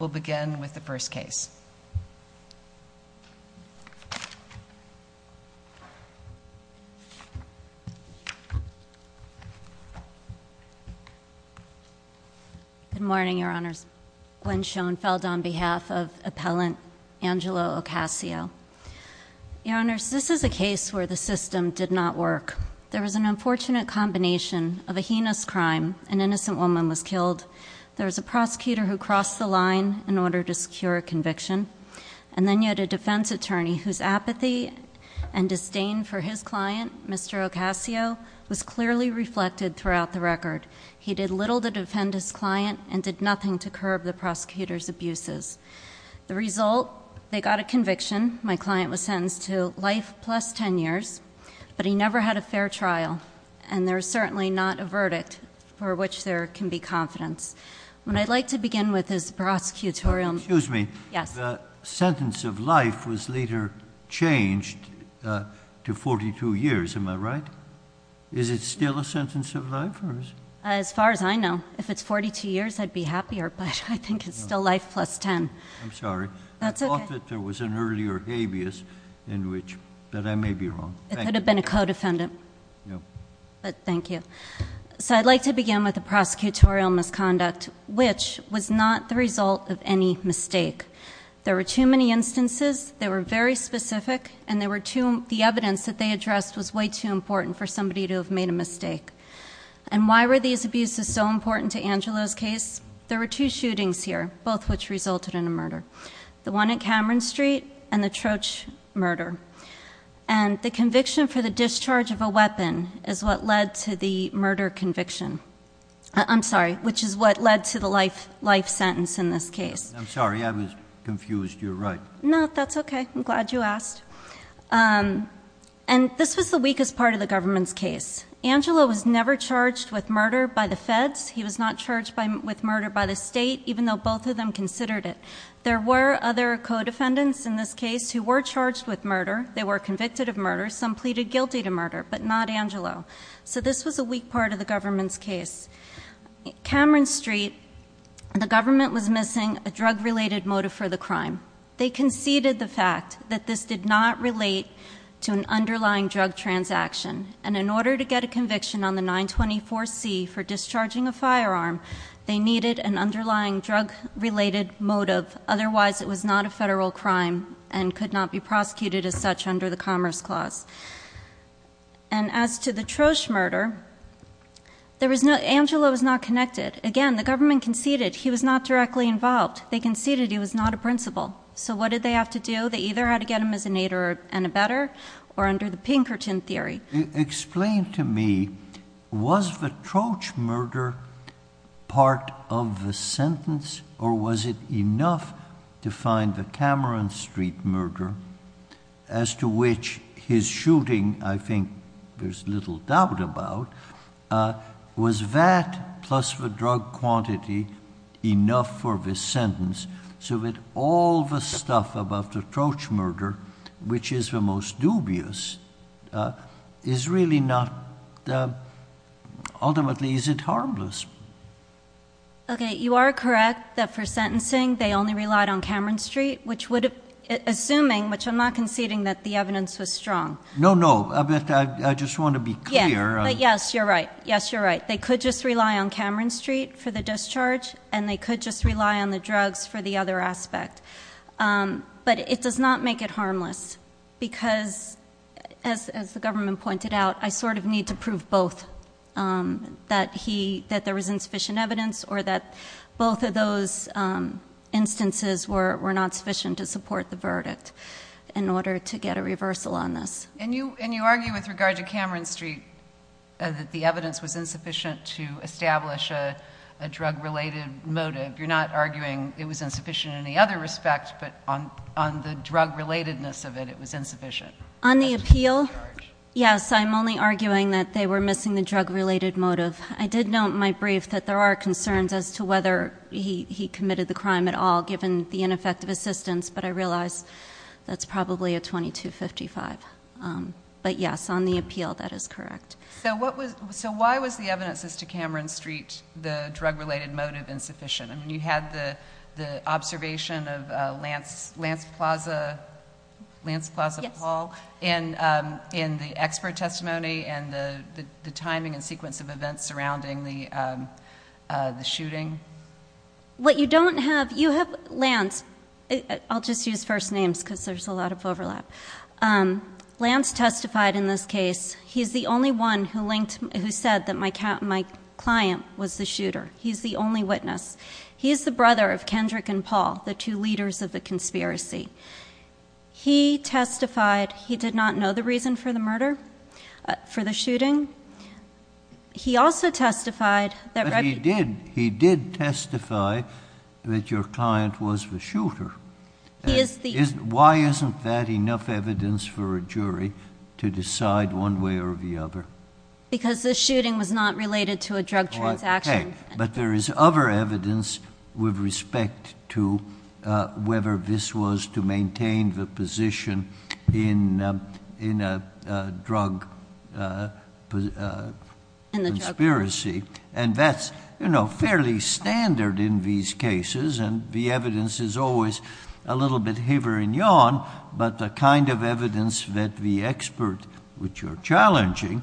We'll begin with the first case. Good morning, Your Honors. Gwen Schoenfeld on behalf of appellant Angela Ocasio. Your Honors, this is a case where the system did not work. There was an unfortunate combination of a heinous crime. An innocent woman was killed. There was a prosecutor who crossed the line in order to secure a conviction. And then you had a defense attorney whose apathy and disdain for his client, Mr. Ocasio, was clearly reflected throughout the record. He did little to defend his client and did nothing to curb the prosecutor's abuses. The result, they got a conviction. My client was sentenced to life plus ten years. But he never had a fair trial. And there's certainly not a verdict for which there can be confidence. When I'd like to begin with this prosecutorial... Excuse me. Yes. The sentence of life was later changed to 42 years. Am I right? Is it still a sentence of life? As far as I know, if it's 42 years, I'd be happier. But I think it's still life plus ten. I'm sorry. That's okay. But there was an earlier habeas in which... But I may be wrong. It could have been a co-defendant. But thank you. So I'd like to begin with the prosecutorial misconduct, which was not the result of any mistake. There were too many instances. They were very specific. And the evidence that they addressed was way too important for somebody to have made a mistake. And why were these abuses so important to Angelo's case? There were two shootings here, both which resulted in a murder. The one at Cameron Street and the Troach murder. And the conviction for the discharge of a weapon is what led to the murder conviction. I'm sorry, which is what led to the life sentence in this case. I'm sorry. I was confused. You're right. No, that's okay. I'm glad you asked. And this was the weakest part of the government's case. Angelo was never charged with murder by the feds. He was not charged with murder by the state, even though both of them considered it. There were other co-defendants in this case who were charged with murder. They were convicted of murder. Some pleaded guilty to murder, but not Angelo. So this was a weak part of the government's case. Cameron Street, the government was missing a drug-related motive for the crime. They conceded the fact that this did not relate to an underlying drug transaction. And in order to get a conviction on the 924C for discharging a firearm, they needed an underlying drug-related motive, otherwise it was not a federal crime and could not be prosecuted as such under the Commerce Clause. And as to the Troach murder, Angelo was not connected. Again, the government conceded he was not directly involved. They conceded he was not a principal. So what did they have to do? They either had to get him as an aider and abetter or under the Pinkerton theory. Explain to me, was the Troach murder part of the sentence or was it enough to find the Cameron Street murder, as to which his shooting, I think there's little doubt about, was that plus the drug quantity enough for the sentence so that all the stuff about the Troach murder, which is the most dubious, is really not, ultimately is it harmless? Okay, you are correct that for sentencing they only relied on Cameron Street, assuming, which I'm not conceding that the evidence was strong. No, no, but I just want to be clear. Yes, but yes, you're right. Yes, you're right. They could just rely on Cameron Street for the discharge and they could just rely on the drugs for the other aspect. But it does not make it harmless because, as the government pointed out, I sort of need to prove both, that there was insufficient evidence or that both of those instances were not sufficient to support the verdict in order to get a reversal on this. And you argue with regard to Cameron Street, that the evidence was insufficient to establish a drug-related motive. You're not arguing it was insufficient in any other respect, but on the drug-relatedness of it, it was insufficient. On the appeal, yes, I'm only arguing that they were missing the drug-related motive. I did note in my brief that there are concerns as to whether he committed the crime at all, given the ineffective assistance, but I realize that's probably a 2255. But yes, on the appeal, that is correct. So why was the evidence as to Cameron Street, the drug-related motive, insufficient? I mean, you had the observation of Lance Plaza Paul in the expert testimony and the timing and sequence of events surrounding the shooting. What you don't have, you have Lance. I'll just use first names because there's a lot of overlap. Lance testified in this case. He's the only one who said that my client was the shooter. He's the only witness. He's the brother of Kendrick and Paul, the two leaders of the conspiracy. He testified he did not know the reason for the murder, for the shooting. He also testified that- But he did. He did testify that your client was the shooter. Why isn't that enough evidence for a jury to decide one way or the other? Because the shooting was not related to a drug transaction. But there is other evidence with respect to whether this was to maintain the position in a drug conspiracy. And that's fairly standard in these cases, and the evidence is always a little bit hither and yon, but the kind of evidence that the expert, which you're challenging,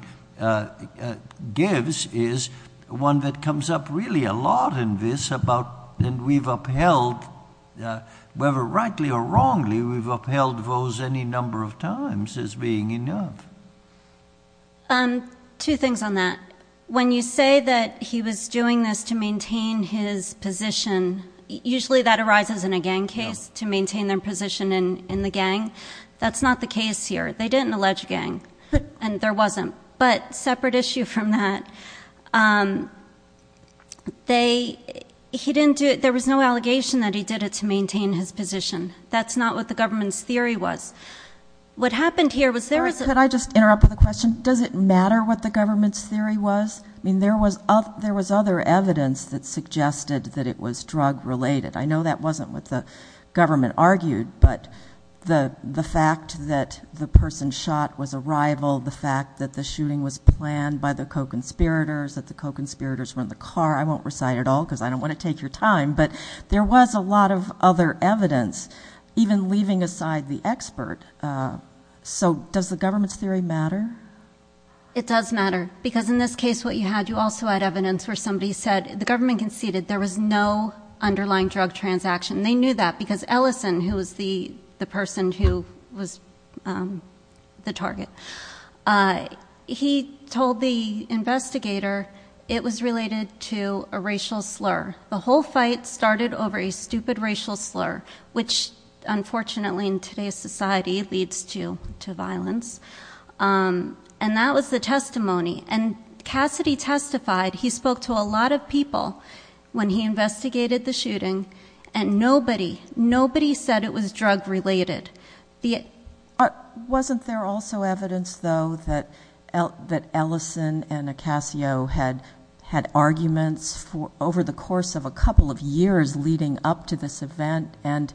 gives is one that comes up really a lot in this. And we've upheld, whether rightly or wrongly, we've upheld those any number of times as being enough. Two things on that. When you say that he was doing this to maintain his position, usually that arises in a gang case, to maintain their position in the gang. That's not the case here. They didn't allege gang, and there wasn't. But separate issue from that, there was no allegation that he did it to maintain his position. That's not what the government's theory was. What happened here was there was- Could I just interrupt with a question? Does it matter what the government's theory was? I mean, there was other evidence that suggested that it was drug-related. I know that wasn't what the government argued, but the fact that the person shot was a rival, the fact that the shooting was planned by the co-conspirators, that the co-conspirators were in the car, I won't recite it all because I don't want to take your time, but there was a lot of other evidence, even leaving aside the expert. So does the government's theory matter? It does matter. Because in this case, what you had, you also had evidence where somebody said, the government conceded there was no underlying drug transaction. They knew that because Ellison, who was the person who was the target, he told the investigator it was related to a racial slur. The whole fight started over a stupid racial slur, which unfortunately in today's society leads to violence. And that was the testimony. And Cassidy testified, he spoke to a lot of people when he investigated the shooting, and nobody, nobody said it was drug-related. Wasn't there also evidence, though, that Ellison and Acasio had arguments over the course of a couple of years leading up to this event, and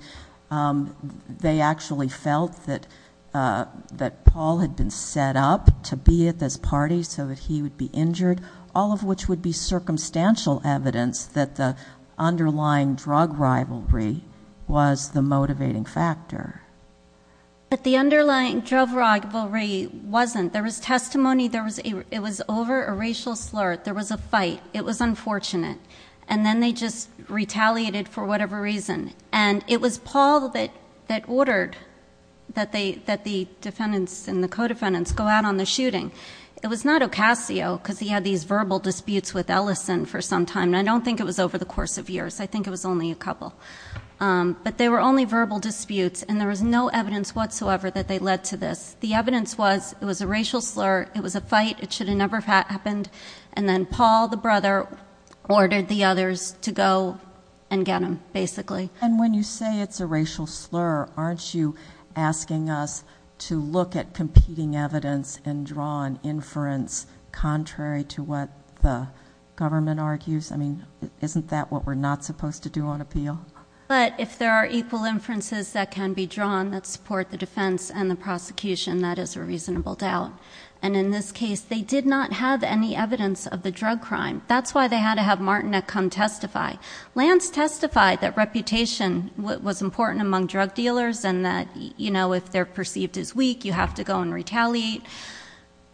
they actually felt that Paul had been set up to be at this party so that he would be injured, all of which would be circumstantial evidence that the underlying drug rivalry was the motivating factor. But the underlying drug rivalry wasn't. There was testimony, it was over a racial slur. There was a fight. It was unfortunate. And then they just retaliated for whatever reason. And it was Paul that ordered that the defendants and the co-defendants go out on the shooting. It was not Acasio because he had these verbal disputes with Ellison for some time, and I don't think it was over the course of years. I think it was only a couple. But they were only verbal disputes, and there was no evidence whatsoever that they led to this. The evidence was it was a racial slur, it was a fight, it should have never happened, and then Paul, the brother, ordered the others to go and get him, basically. And when you say it's a racial slur, aren't you asking us to look at competing evidence and draw an inference contrary to what the government argues? I mean, isn't that what we're not supposed to do on appeal? But if there are equal inferences that can be drawn that support the defense and the prosecution, that is a reasonable doubt. And in this case, they did not have any evidence of the drug crime. That's why they had to have Martinek come testify. Lance testified that reputation was important among drug dealers and that if they're perceived as weak, you have to go and retaliate.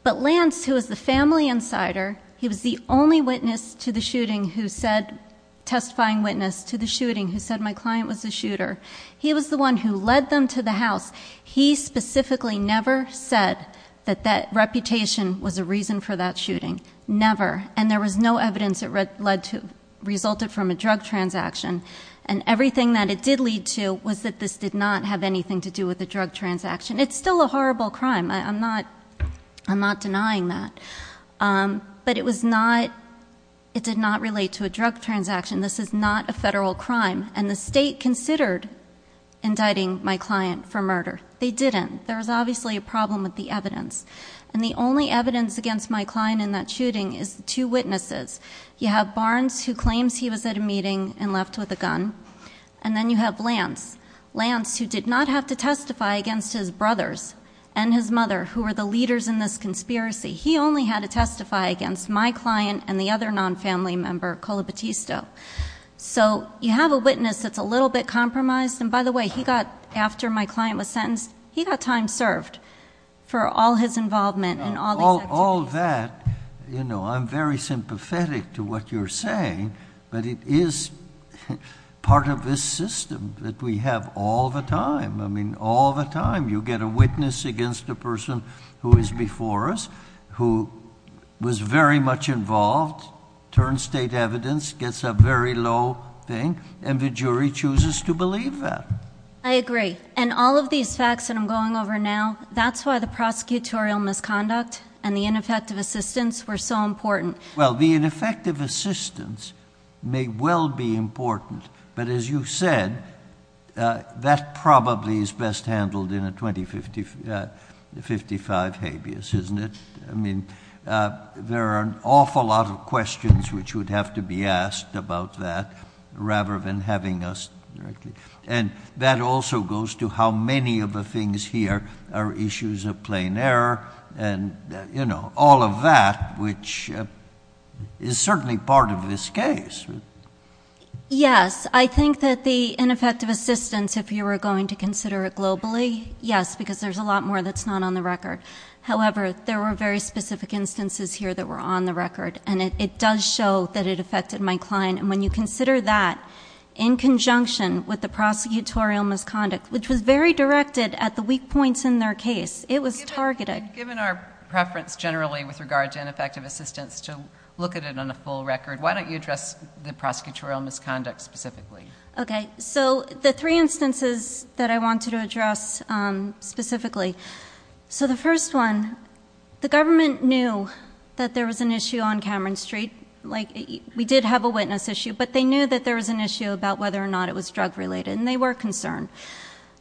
But Lance, who was the family insider, he was the only witness to the shooting who said, testifying witness to the shooting, who said my client was a shooter. He was the one who led them to the house. He specifically never said that that reputation was a reason for that shooting. Never. And there was no evidence that resulted from a drug transaction. And everything that it did lead to was that this did not have anything to do with the drug transaction. It's still a horrible crime. I'm not denying that. But it did not relate to a drug transaction. This is not a federal crime. And the state considered indicting my client for murder. They didn't. There was obviously a problem with the evidence. And the only evidence against my client in that shooting is two witnesses. You have Barnes, who claims he was at a meeting and left with a gun. And then you have Lance. Lance, who did not have to testify against his brothers and his mother, who were the leaders in this conspiracy. He only had to testify against my client and the other non-family member, Colo Batisto. So you have a witness that's a little bit compromised. And, by the way, he got, after my client was sentenced, he got time served for all his involvement and all these activities. All that, you know, I'm very sympathetic to what you're saying. But it is part of this system that we have all the time. I mean, all the time you get a witness against a person who is before us, who was very much involved, turns state evidence, gets a very low thing, and the jury chooses to believe that. I agree. And all of these facts that I'm going over now, that's why the prosecutorial misconduct and the ineffective assistance were so important. Well, the ineffective assistance may well be important. But, as you said, that probably is best handled in a 2055 habeas, isn't it? I mean, there are an awful lot of questions which would have to be asked about that rather than having us directly. And that also goes to how many of the things here are issues of plain error and, you know, all of that, which is certainly part of this case. Yes. I think that the ineffective assistance, if you were going to consider it globally, yes, because there's a lot more that's not on the record. However, there were very specific instances here that were on the record, and it does show that it affected my client. And when you consider that in conjunction with the prosecutorial misconduct, which was very directed at the weak points in their case, it was targeted. Given our preference generally with regard to ineffective assistance to look at it on a full record, why don't you address the prosecutorial misconduct specifically? Okay. So the three instances that I wanted to address specifically. So the first one, the government knew that there was an issue on Cameron Street. Like, we did have a witness issue, but they knew that there was an issue about whether or not it was drug related, and they were concerned.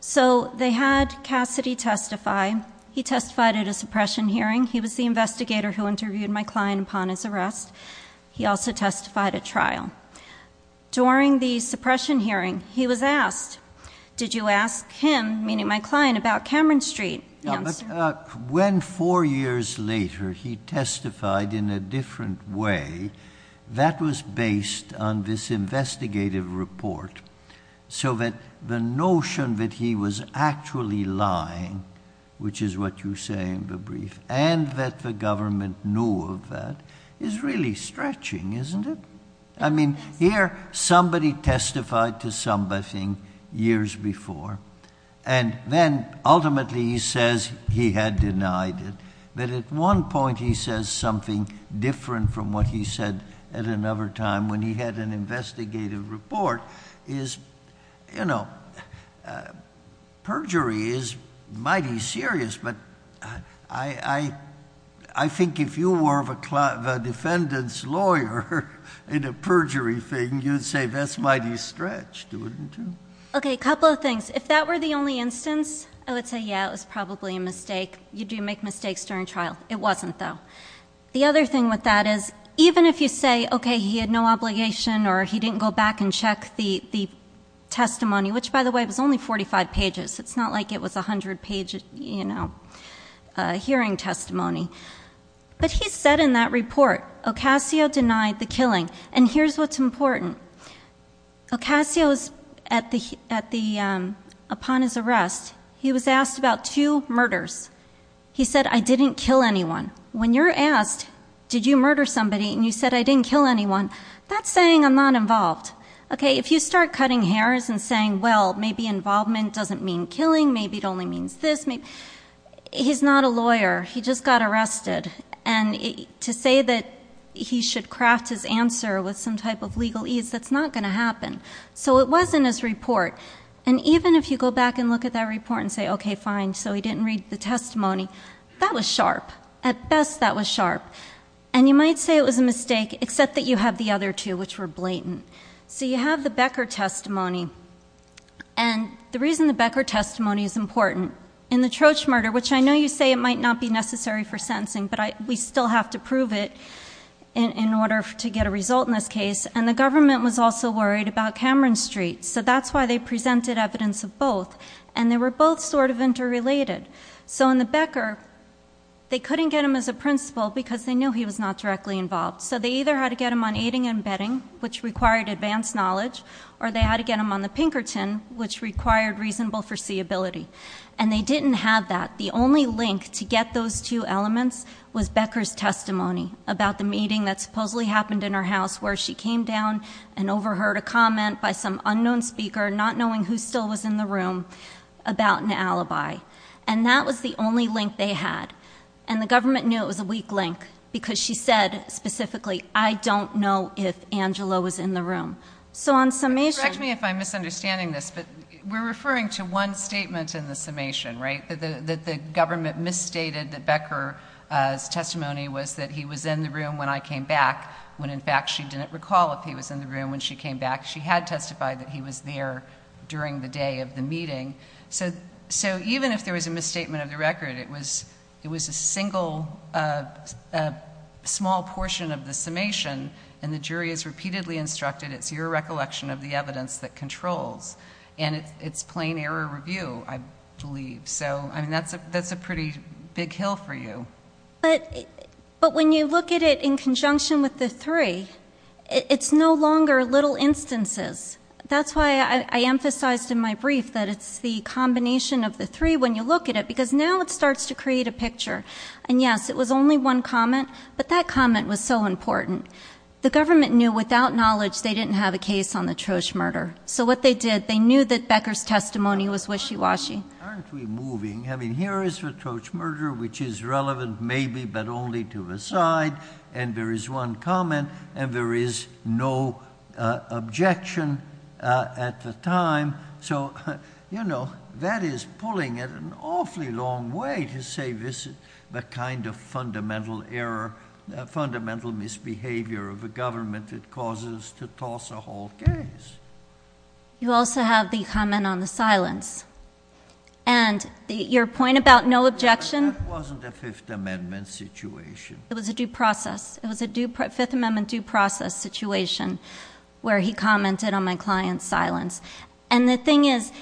So they had Cassidy testify. He testified at a suppression hearing. He was the investigator who interviewed my client upon his arrest. He also testified at trial. During the suppression hearing, he was asked, Did you ask him, meaning my client, about Cameron Street? When four years later he testified in a different way, that was based on this investigative report, so that the notion that he was actually lying, which is what you say in the brief, and that the government knew of that is really stretching, isn't it? I mean, here somebody testified to something years before, and then ultimately he says he had denied it. But at one point he says something different from what he said at another time when he had an investigative report. You know, perjury is mighty serious, but I think if you were the defendant's lawyer in a perjury thing, you'd say that's mighty stretched, wouldn't you? Okay, a couple of things. If that were the only instance, I would say, yeah, it was probably a mistake. You do make mistakes during trial. It wasn't, though. The other thing with that is, even if you say, okay, he had no obligation or he didn't go back and check the testimony, which, by the way, was only 45 pages. It's not like it was 100-page hearing testimony. But he said in that report, Ocasio denied the killing. And here's what's important. Ocasio, upon his arrest, he was asked about two murders. He said, I didn't kill anyone. When you're asked, did you murder somebody, and you said, I didn't kill anyone, that's saying I'm not involved. Okay, if you start cutting hairs and saying, well, maybe involvement doesn't mean killing, maybe it only means this. He's not a lawyer. He just got arrested. And to say that he should craft his answer with some type of legal ease, that's not going to happen. So it was in his report. And even if you go back and look at that report and say, okay, fine, so he didn't read the testimony. That was sharp. At best, that was sharp. And you might say it was a mistake, except that you have the other two, which were blatant. So you have the Becker testimony. And the reason the Becker testimony is important, in the Troach murder, which I know you say it might not be necessary for sentencing, but we still have to prove it in order to get a result in this case. And the government was also worried about Cameron Street. So that's why they presented evidence of both. And they were both sort of interrelated. So in the Becker, they couldn't get him as a principal because they knew he was not directly involved. So they either had to get him on aiding and abetting, which required advanced knowledge, or they had to get him on the Pinkerton, which required reasonable foreseeability. And they didn't have that. The only link to get those two elements was Becker's testimony about the meeting that supposedly happened in her house, where she came down and overheard a comment by some unknown speaker, not knowing who still was in the room, about an alibi. And that was the only link they had. And the government knew it was a weak link because she said specifically, I don't know if Angela was in the room. So on summation ‑‑ Correct me if I'm misunderstanding this, but we're referring to one statement in the summation, right, that the government misstated that Becker's testimony was that he was in the room when I came back, when in fact she didn't recall if he was in the room when she came back. She had testified that he was there during the day of the meeting. So even if there was a misstatement of the record, it was a single small portion of the summation, and the jury is repeatedly instructed it's your recollection of the evidence that controls. And it's plain error review, I believe. So, I mean, that's a pretty big hill for you. But when you look at it in conjunction with the three, it's no longer little instances. That's why I emphasized in my brief that it's the combination of the three when you look at it, because now it starts to create a picture. And, yes, it was only one comment, but that comment was so important. The government knew without knowledge they didn't have a case on the Trosh murder. So what they did, they knew that Becker's testimony was wishy‑washy. Why aren't we moving? I mean, here is the Trosh murder, which is relevant maybe but only to the side, and there is one comment, and there is no objection at the time. So, you know, that is pulling it an awfully long way to say this is the kind of fundamental error, fundamental misbehavior of the government that causes us to toss a whole case. You also have the comment on the silence. And your point about no objection? That wasn't a Fifth Amendment situation. It was a due process. It was a Fifth Amendment due process situation where he commented on my client's silence. And the thing is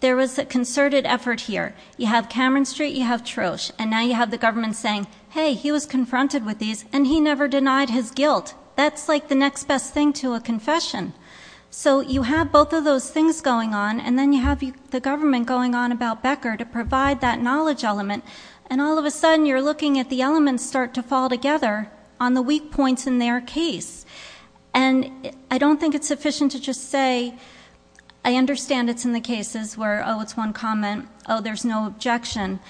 there was a concerted effort here. You have Cameron Street, you have Trosh, and now you have the government saying, hey, he was confronted with these, and he never denied his guilt. That's like the next best thing to a confession. So you have both of those things going on, and then you have the government going on about Becker to provide that knowledge element, and all of a sudden you're looking at the elements start to fall together on the weak points in their case. And I don't think it's sufficient to just say I understand it's in the cases where, oh, it's one comment, oh, there's no objection.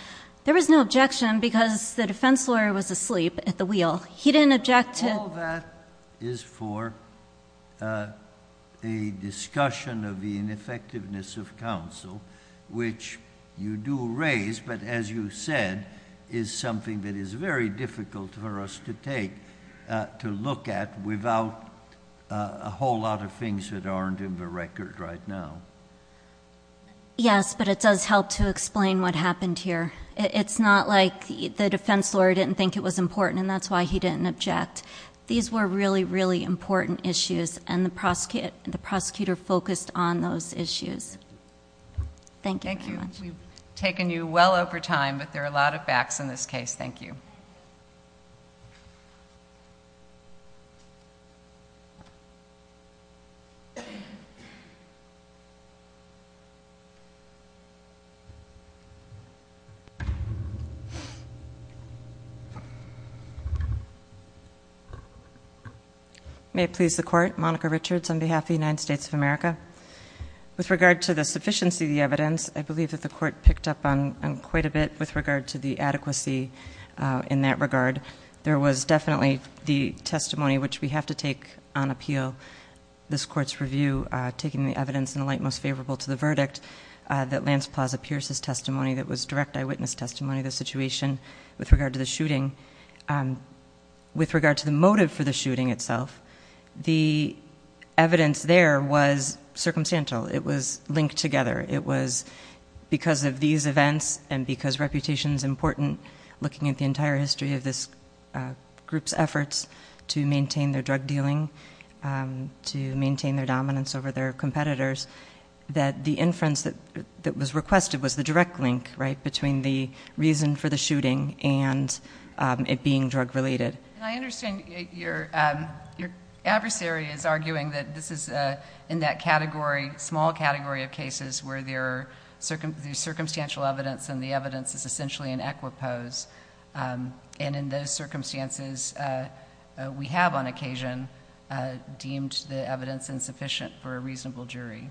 There was no objection because the defense lawyer was asleep at the wheel. He didn't object to... All that is for a discussion of the ineffectiveness of counsel, which you do raise, but as you said is something that is very difficult for us to take, to look at without a whole lot of things that aren't in the record right now. Yes, but it does help to explain what happened here. It's not like the defense lawyer didn't think it was important, and that's why he didn't object. These were really, really important issues, and the prosecutor focused on those issues. Thank you very much. Thank you. We've taken you well over time, but there are a lot of backs in this case. Thank you. May it please the Court. Monica Richards on behalf of the United States of America. With regard to the sufficiency of the evidence, I believe that the Court picked up on quite a bit with regard to the adequacy in that regard. There was definitely the testimony, which we have to take on appeal, this Court's review, that Lance Plaza Pierce's testimony that was direct eyewitness testimony of the situation with regard to the shooting. With regard to the motive for the shooting itself, the evidence there was circumstantial. It was linked together. It was because of these events and because reputation is important, looking at the entire history of this group's efforts to maintain their drug dealing, to maintain their dominance over their competitors, that the inference that was requested was the direct link between the reason for the shooting and it being drug-related. I understand your adversary is arguing that this is in that category, small category of cases where there is circumstantial evidence and the evidence is essentially in equipose. In those circumstances, we have on occasion deemed the evidence insufficient for a reasonable jury.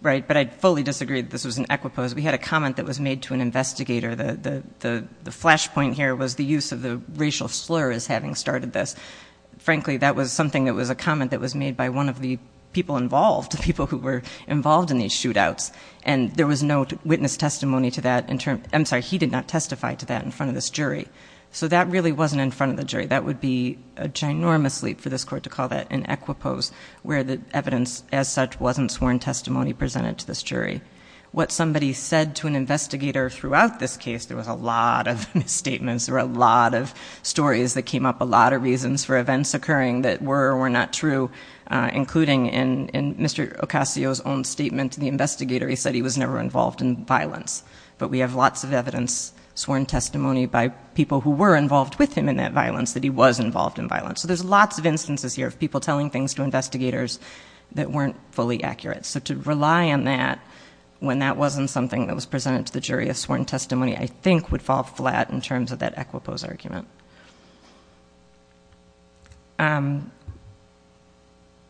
Right, but I'd fully disagree that this was in equipose. We had a comment that was made to an investigator. The flashpoint here was the use of the racial slur as having started this. Frankly, that was something that was a comment that was made by one of the people involved, people who were involved in these shootouts, and there was no witness testimony to that. I'm sorry, he did not testify to that in front of this jury. So that really wasn't in front of the jury. That would be a ginormous leap for this court to call that in equipose, where the evidence as such wasn't sworn testimony presented to this jury. What somebody said to an investigator throughout this case, there was a lot of misstatements. There were a lot of stories that came up, a lot of reasons for events occurring that were or were not true, including in Mr. Ocasio's own statement to the investigator, he said he was never involved in violence. But we have lots of evidence, sworn testimony by people who were involved with him in that violence, that he was involved in violence. So there's lots of instances here of people telling things to investigators that weren't fully accurate. So to rely on that when that wasn't something that was presented to the jury as sworn testimony, I think would fall flat in terms of that equipose argument.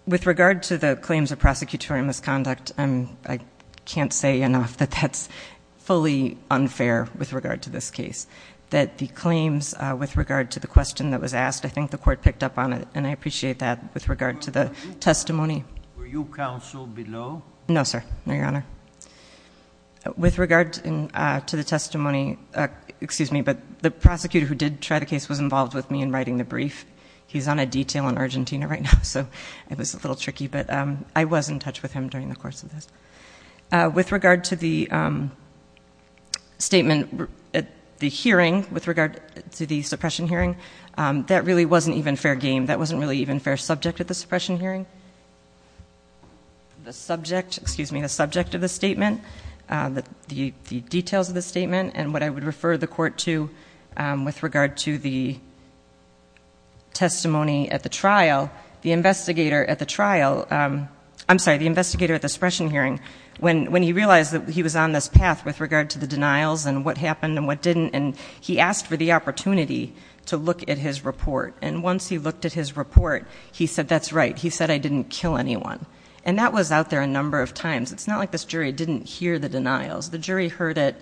With regard to the claims of prosecutorial misconduct, I can't say enough that that's fully unfair with regard to this case. That the claims with regard to the question that was asked, I think the court picked up on it, and I appreciate that with regard to the testimony. Were you counsel below? No, sir, no, Your Honor. With regard to the testimony, excuse me, but the prosecutor who did try the case was involved with me in writing the brief. He's on a detail in Argentina right now, so it was a little tricky, but I was in touch with him during the course of this. With regard to the statement at the hearing, with regard to the suppression hearing, that really wasn't even fair game. That wasn't really even fair subject at the suppression hearing. The subject, excuse me, the subject of the statement, the details of the statement, and what I would refer the court to with regard to the testimony at the trial, the investigator at the trial, I'm sorry, the investigator at the suppression hearing, when he realized that he was on this path with regard to the denials and what happened and what didn't, and he asked for the opportunity to look at his report. And once he looked at his report, he said that's right. He said I didn't kill anyone. And that was out there a number of times. It's not like this jury didn't hear the denials. The jury heard it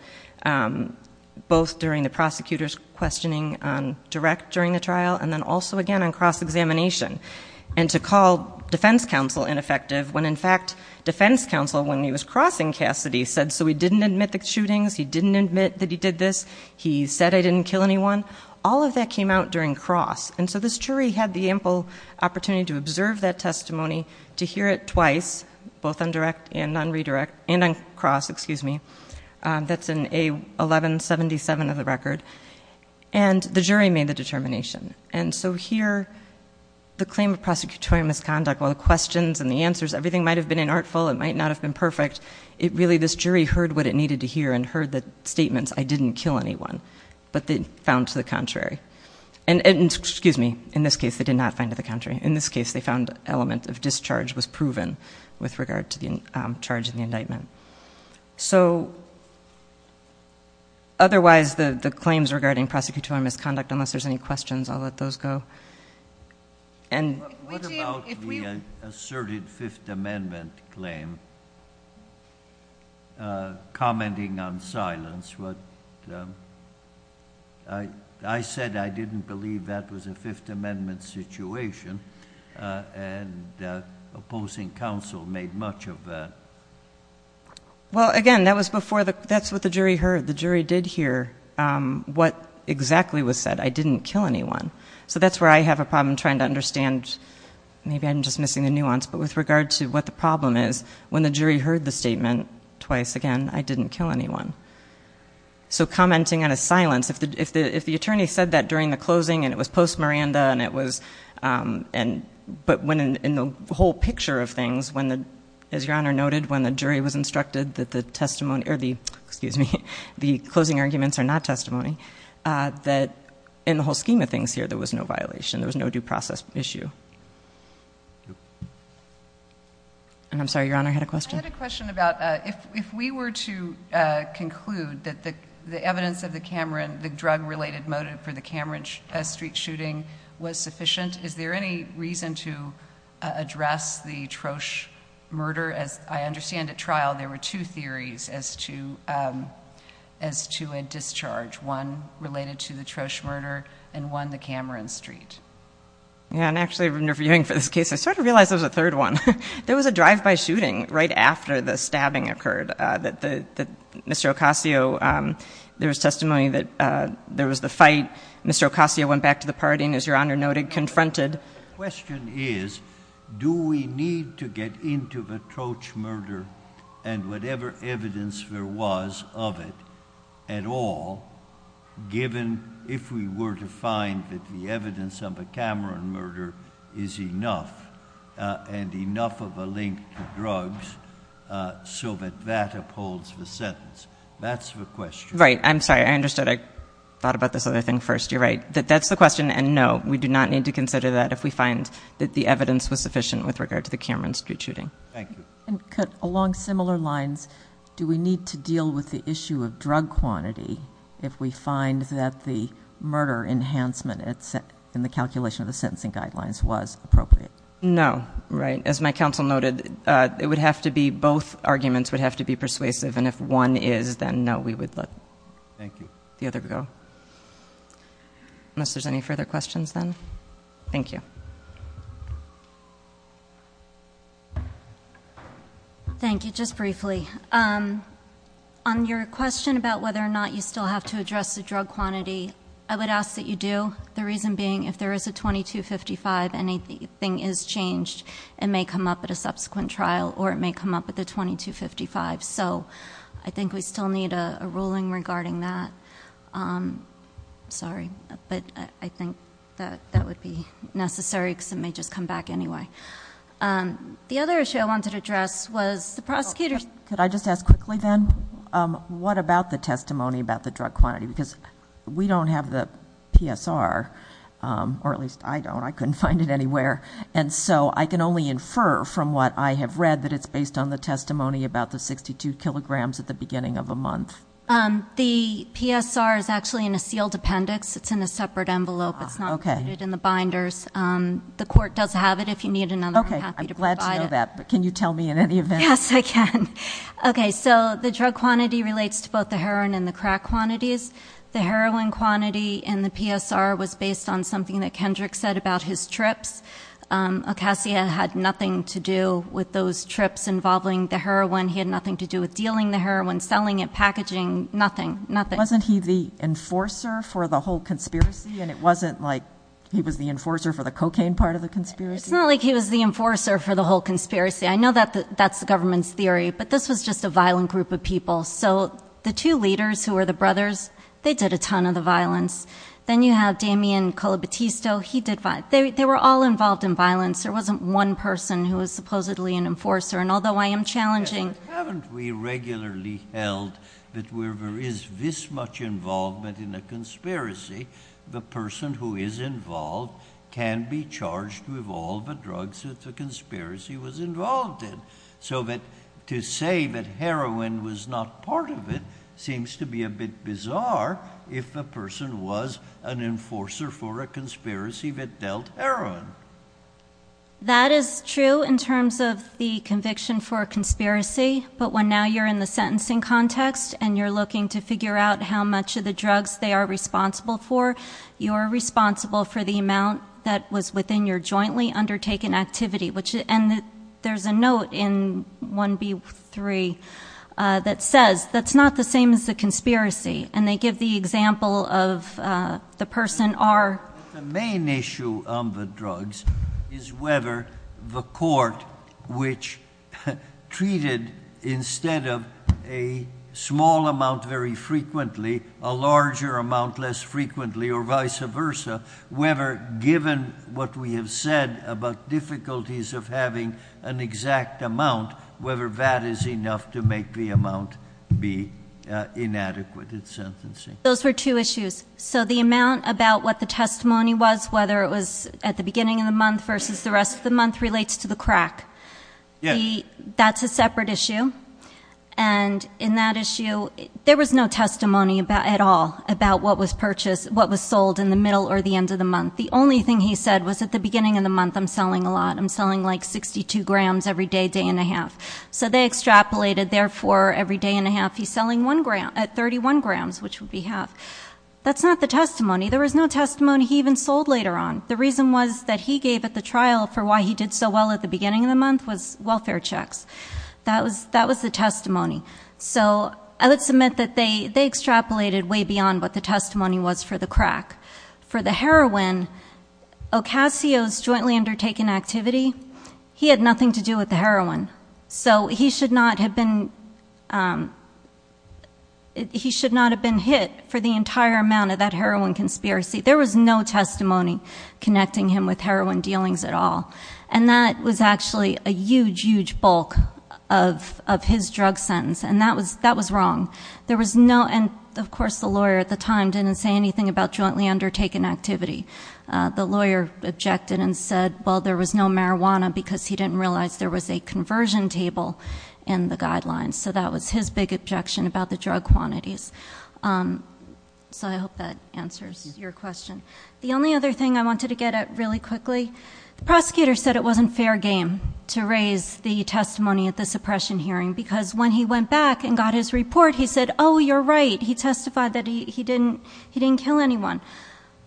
both during the prosecutor's questioning on direct during the trial and then also, again, on cross-examination. And to call defense counsel ineffective when, in fact, defense counsel, when he was crossing Cassidy, said so he didn't admit the shootings, he didn't admit that he did this, he said I didn't kill anyone. All of that came out during cross. And so this jury had the ample opportunity to observe that testimony, to hear it twice, both on direct and on cross, that's in A1177 of the record, and the jury made the determination. And so here the claim of prosecutorial misconduct, while the questions and the answers, everything might have been inartful, it might not have been perfect, really this jury heard what it needed to hear and heard the statements I didn't kill anyone, but they found to the contrary. And, excuse me, in this case they did not find to the contrary. In this case they found element of discharge was proven with regard to the charge in the indictment. So otherwise the claims regarding prosecutorial misconduct, unless there's any questions, I'll let those go. What about the asserted Fifth Amendment claim, commenting on silence? I said I didn't believe that was a Fifth Amendment situation, and opposing counsel made much of that. Well, again, that's what the jury heard. The jury did hear what exactly was said, I didn't kill anyone. So that's where I have a problem trying to understand, maybe I'm just missing the nuance, but with regard to what the problem is, when the jury heard the statement twice, again, I didn't kill anyone. So commenting on a silence, if the attorney said that during the closing and it was post-Miranda, but in the whole picture of things, as Your Honor noted, when the jury was instructed that the closing arguments are not testimony, that in the whole scheme of things here there was no violation, there was no due process issue. And I'm sorry, Your Honor, I had a question. I had a question about if we were to conclude that the evidence of the drug-related motive for the Cameron Street shooting was sufficient, is there any reason to address the Trosh murder? As I understand at trial, there were two theories as to a discharge, one related to the Trosh murder and one the Cameron Street. Yeah, and actually interviewing for this case, I sort of realized there was a third one. There was a drive-by shooting right after the stabbing occurred. Mr. Ocasio, there was testimony that there was the fight. Mr. Ocasio went back to the party and, as Your Honor noted, confronted. The question is do we need to get into the Trosh murder and whatever evidence there was of it at all, given if we were to find that the evidence of the Cameron murder is enough and enough of a link to drugs so that that upholds the sentence? That's the question. Right. I'm sorry. I understood. I thought about this other thing first. You're right. That's the question, and no, we do not need to consider that if we find that the evidence was sufficient with regard to the Cameron Street shooting. Thank you. Along similar lines, do we need to deal with the issue of drug quantity if we find that the murder enhancement in the calculation of the sentencing guidelines was appropriate? No. Right. As my counsel noted, both arguments would have to be persuasive, and if one is, then no, we would let the other go. Unless there's any further questions, then. Thank you. Thank you. Just briefly, on your question about whether or not you still have to address the drug quantity, I would ask that you do, the reason being if there is a 2255 and anything is changed, it may come up at a subsequent trial or it may come up at the 2255. So I think we still need a ruling regarding that. Sorry. But I think that that would be necessary because it may just come back anyway. The other issue I wanted to address was the prosecutors. Could I just ask quickly then, what about the testimony about the drug quantity? Because we don't have the PSR, or at least I don't. I couldn't find it anywhere. And so I can only infer from what I have read that it's based on the testimony about the 62 kilograms at the beginning of a month. The PSR is actually in a sealed appendix. It's in a separate envelope. It's not included in the binders. The court does have it if you need another. I'm happy to provide it. Okay, I'm glad to know that. Can you tell me in any event? Yes, I can. Okay, so the drug quantity relates to both the heroin and the crack quantities. The heroin quantity in the PSR was based on something that Kendrick said about his trips. Ocasio had nothing to do with those trips involving the heroin. He had nothing to do with dealing the heroin, selling it, packaging, nothing, nothing. Wasn't he the enforcer for the whole conspiracy? And it wasn't like he was the enforcer for the cocaine part of the conspiracy? It's not like he was the enforcer for the whole conspiracy. I know that's the government's theory. But this was just a violent group of people. So the two leaders who were the brothers, they did a ton of the violence. Then you have Damian Colobatisto. He did violence. They were all involved in violence. There wasn't one person who was supposedly an enforcer, and although I am challenging. But haven't we regularly held that where there is this much involvement in a conspiracy, the person who is involved can be charged with all the drugs that the conspiracy was involved in? So to say that heroin was not part of it seems to be a bit bizarre if the person was an enforcer for a conspiracy that dealt heroin. That is true in terms of the conviction for a conspiracy. But when now you're in the sentencing context, and you're looking to figure out how much of the drugs they are responsible for, you're responsible for the amount that was within your jointly undertaken activity. There's a note in 1B3 that says that's not the same as the conspiracy, and they give the example of the person are. The main issue of the drugs is whether the court, which treated instead of a small amount very frequently, a larger amount less frequently, or vice versa, whether given what we have said about difficulties of having an exact amount, whether that is enough to make the amount be inadequate in sentencing. Those were two issues. So the amount about what the testimony was, whether it was at the beginning of the month versus the rest of the month, relates to the crack. That's a separate issue. And in that issue, there was no testimony at all about what was purchased, what was sold in the middle or the end of the month. The only thing he said was at the beginning of the month, I'm selling a lot. I'm selling like 62 grams every day, day and a half. So they extrapolated. Therefore, every day and a half, he's selling at 31 grams, which would be half. That's not the testimony. There was no testimony he even sold later on. The reason was that he gave at the trial for why he did so well at the beginning of the month was welfare checks. That was the testimony. So I would submit that they extrapolated way beyond what the testimony was for the crack. For the heroin, Ocasio's jointly undertaken activity, he had nothing to do with the heroin. So he should not have been hit for the entire amount of that heroin conspiracy. There was no testimony connecting him with heroin dealings at all. And that was actually a huge, huge bulk of his drug sentence. And that was wrong. There was no, and of course, the lawyer at the time didn't say anything about jointly undertaken activity. The lawyer objected and said, well, there was no marijuana because he didn't realize there was a conversion table in the guidelines. So that was his big objection about the drug quantities. So I hope that answers your question. The only other thing I wanted to get at really quickly, the prosecutor said it wasn't fair game to raise the testimony at the suppression hearing. Because when he went back and got his report, he said, oh, you're right. He testified that he didn't kill anyone.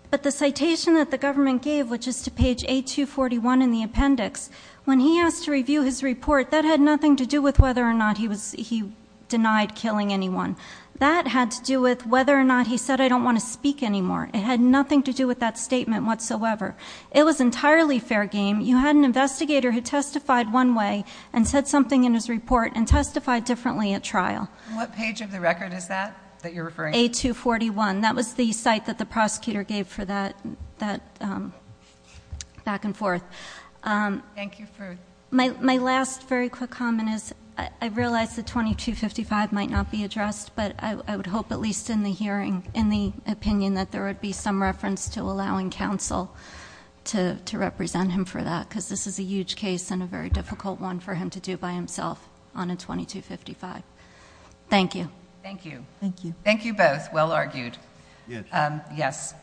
But the citation that the government gave, which is to page 8241 in the appendix, when he asked to review his report, that had nothing to do with whether or not he denied killing anyone. That had to do with whether or not he said, I don't want to speak anymore. It had nothing to do with that statement whatsoever. It was entirely fair game. You had an investigator who testified one way and said something in his report and testified differently at trial. What page of the record is that that you're referring to? 8241. That was the site that the prosecutor gave for that back and forth. Thank you for- My last very quick comment is, I realize that 2255 might not be addressed, but I would hope at least in the hearing, in the opinion, that there would be some reference to allowing counsel to represent him for that. Because this is a huge case and a very difficult one for him to do by himself on a 2255. Thank you. Thank you. Thank you both. Well argued. Yes.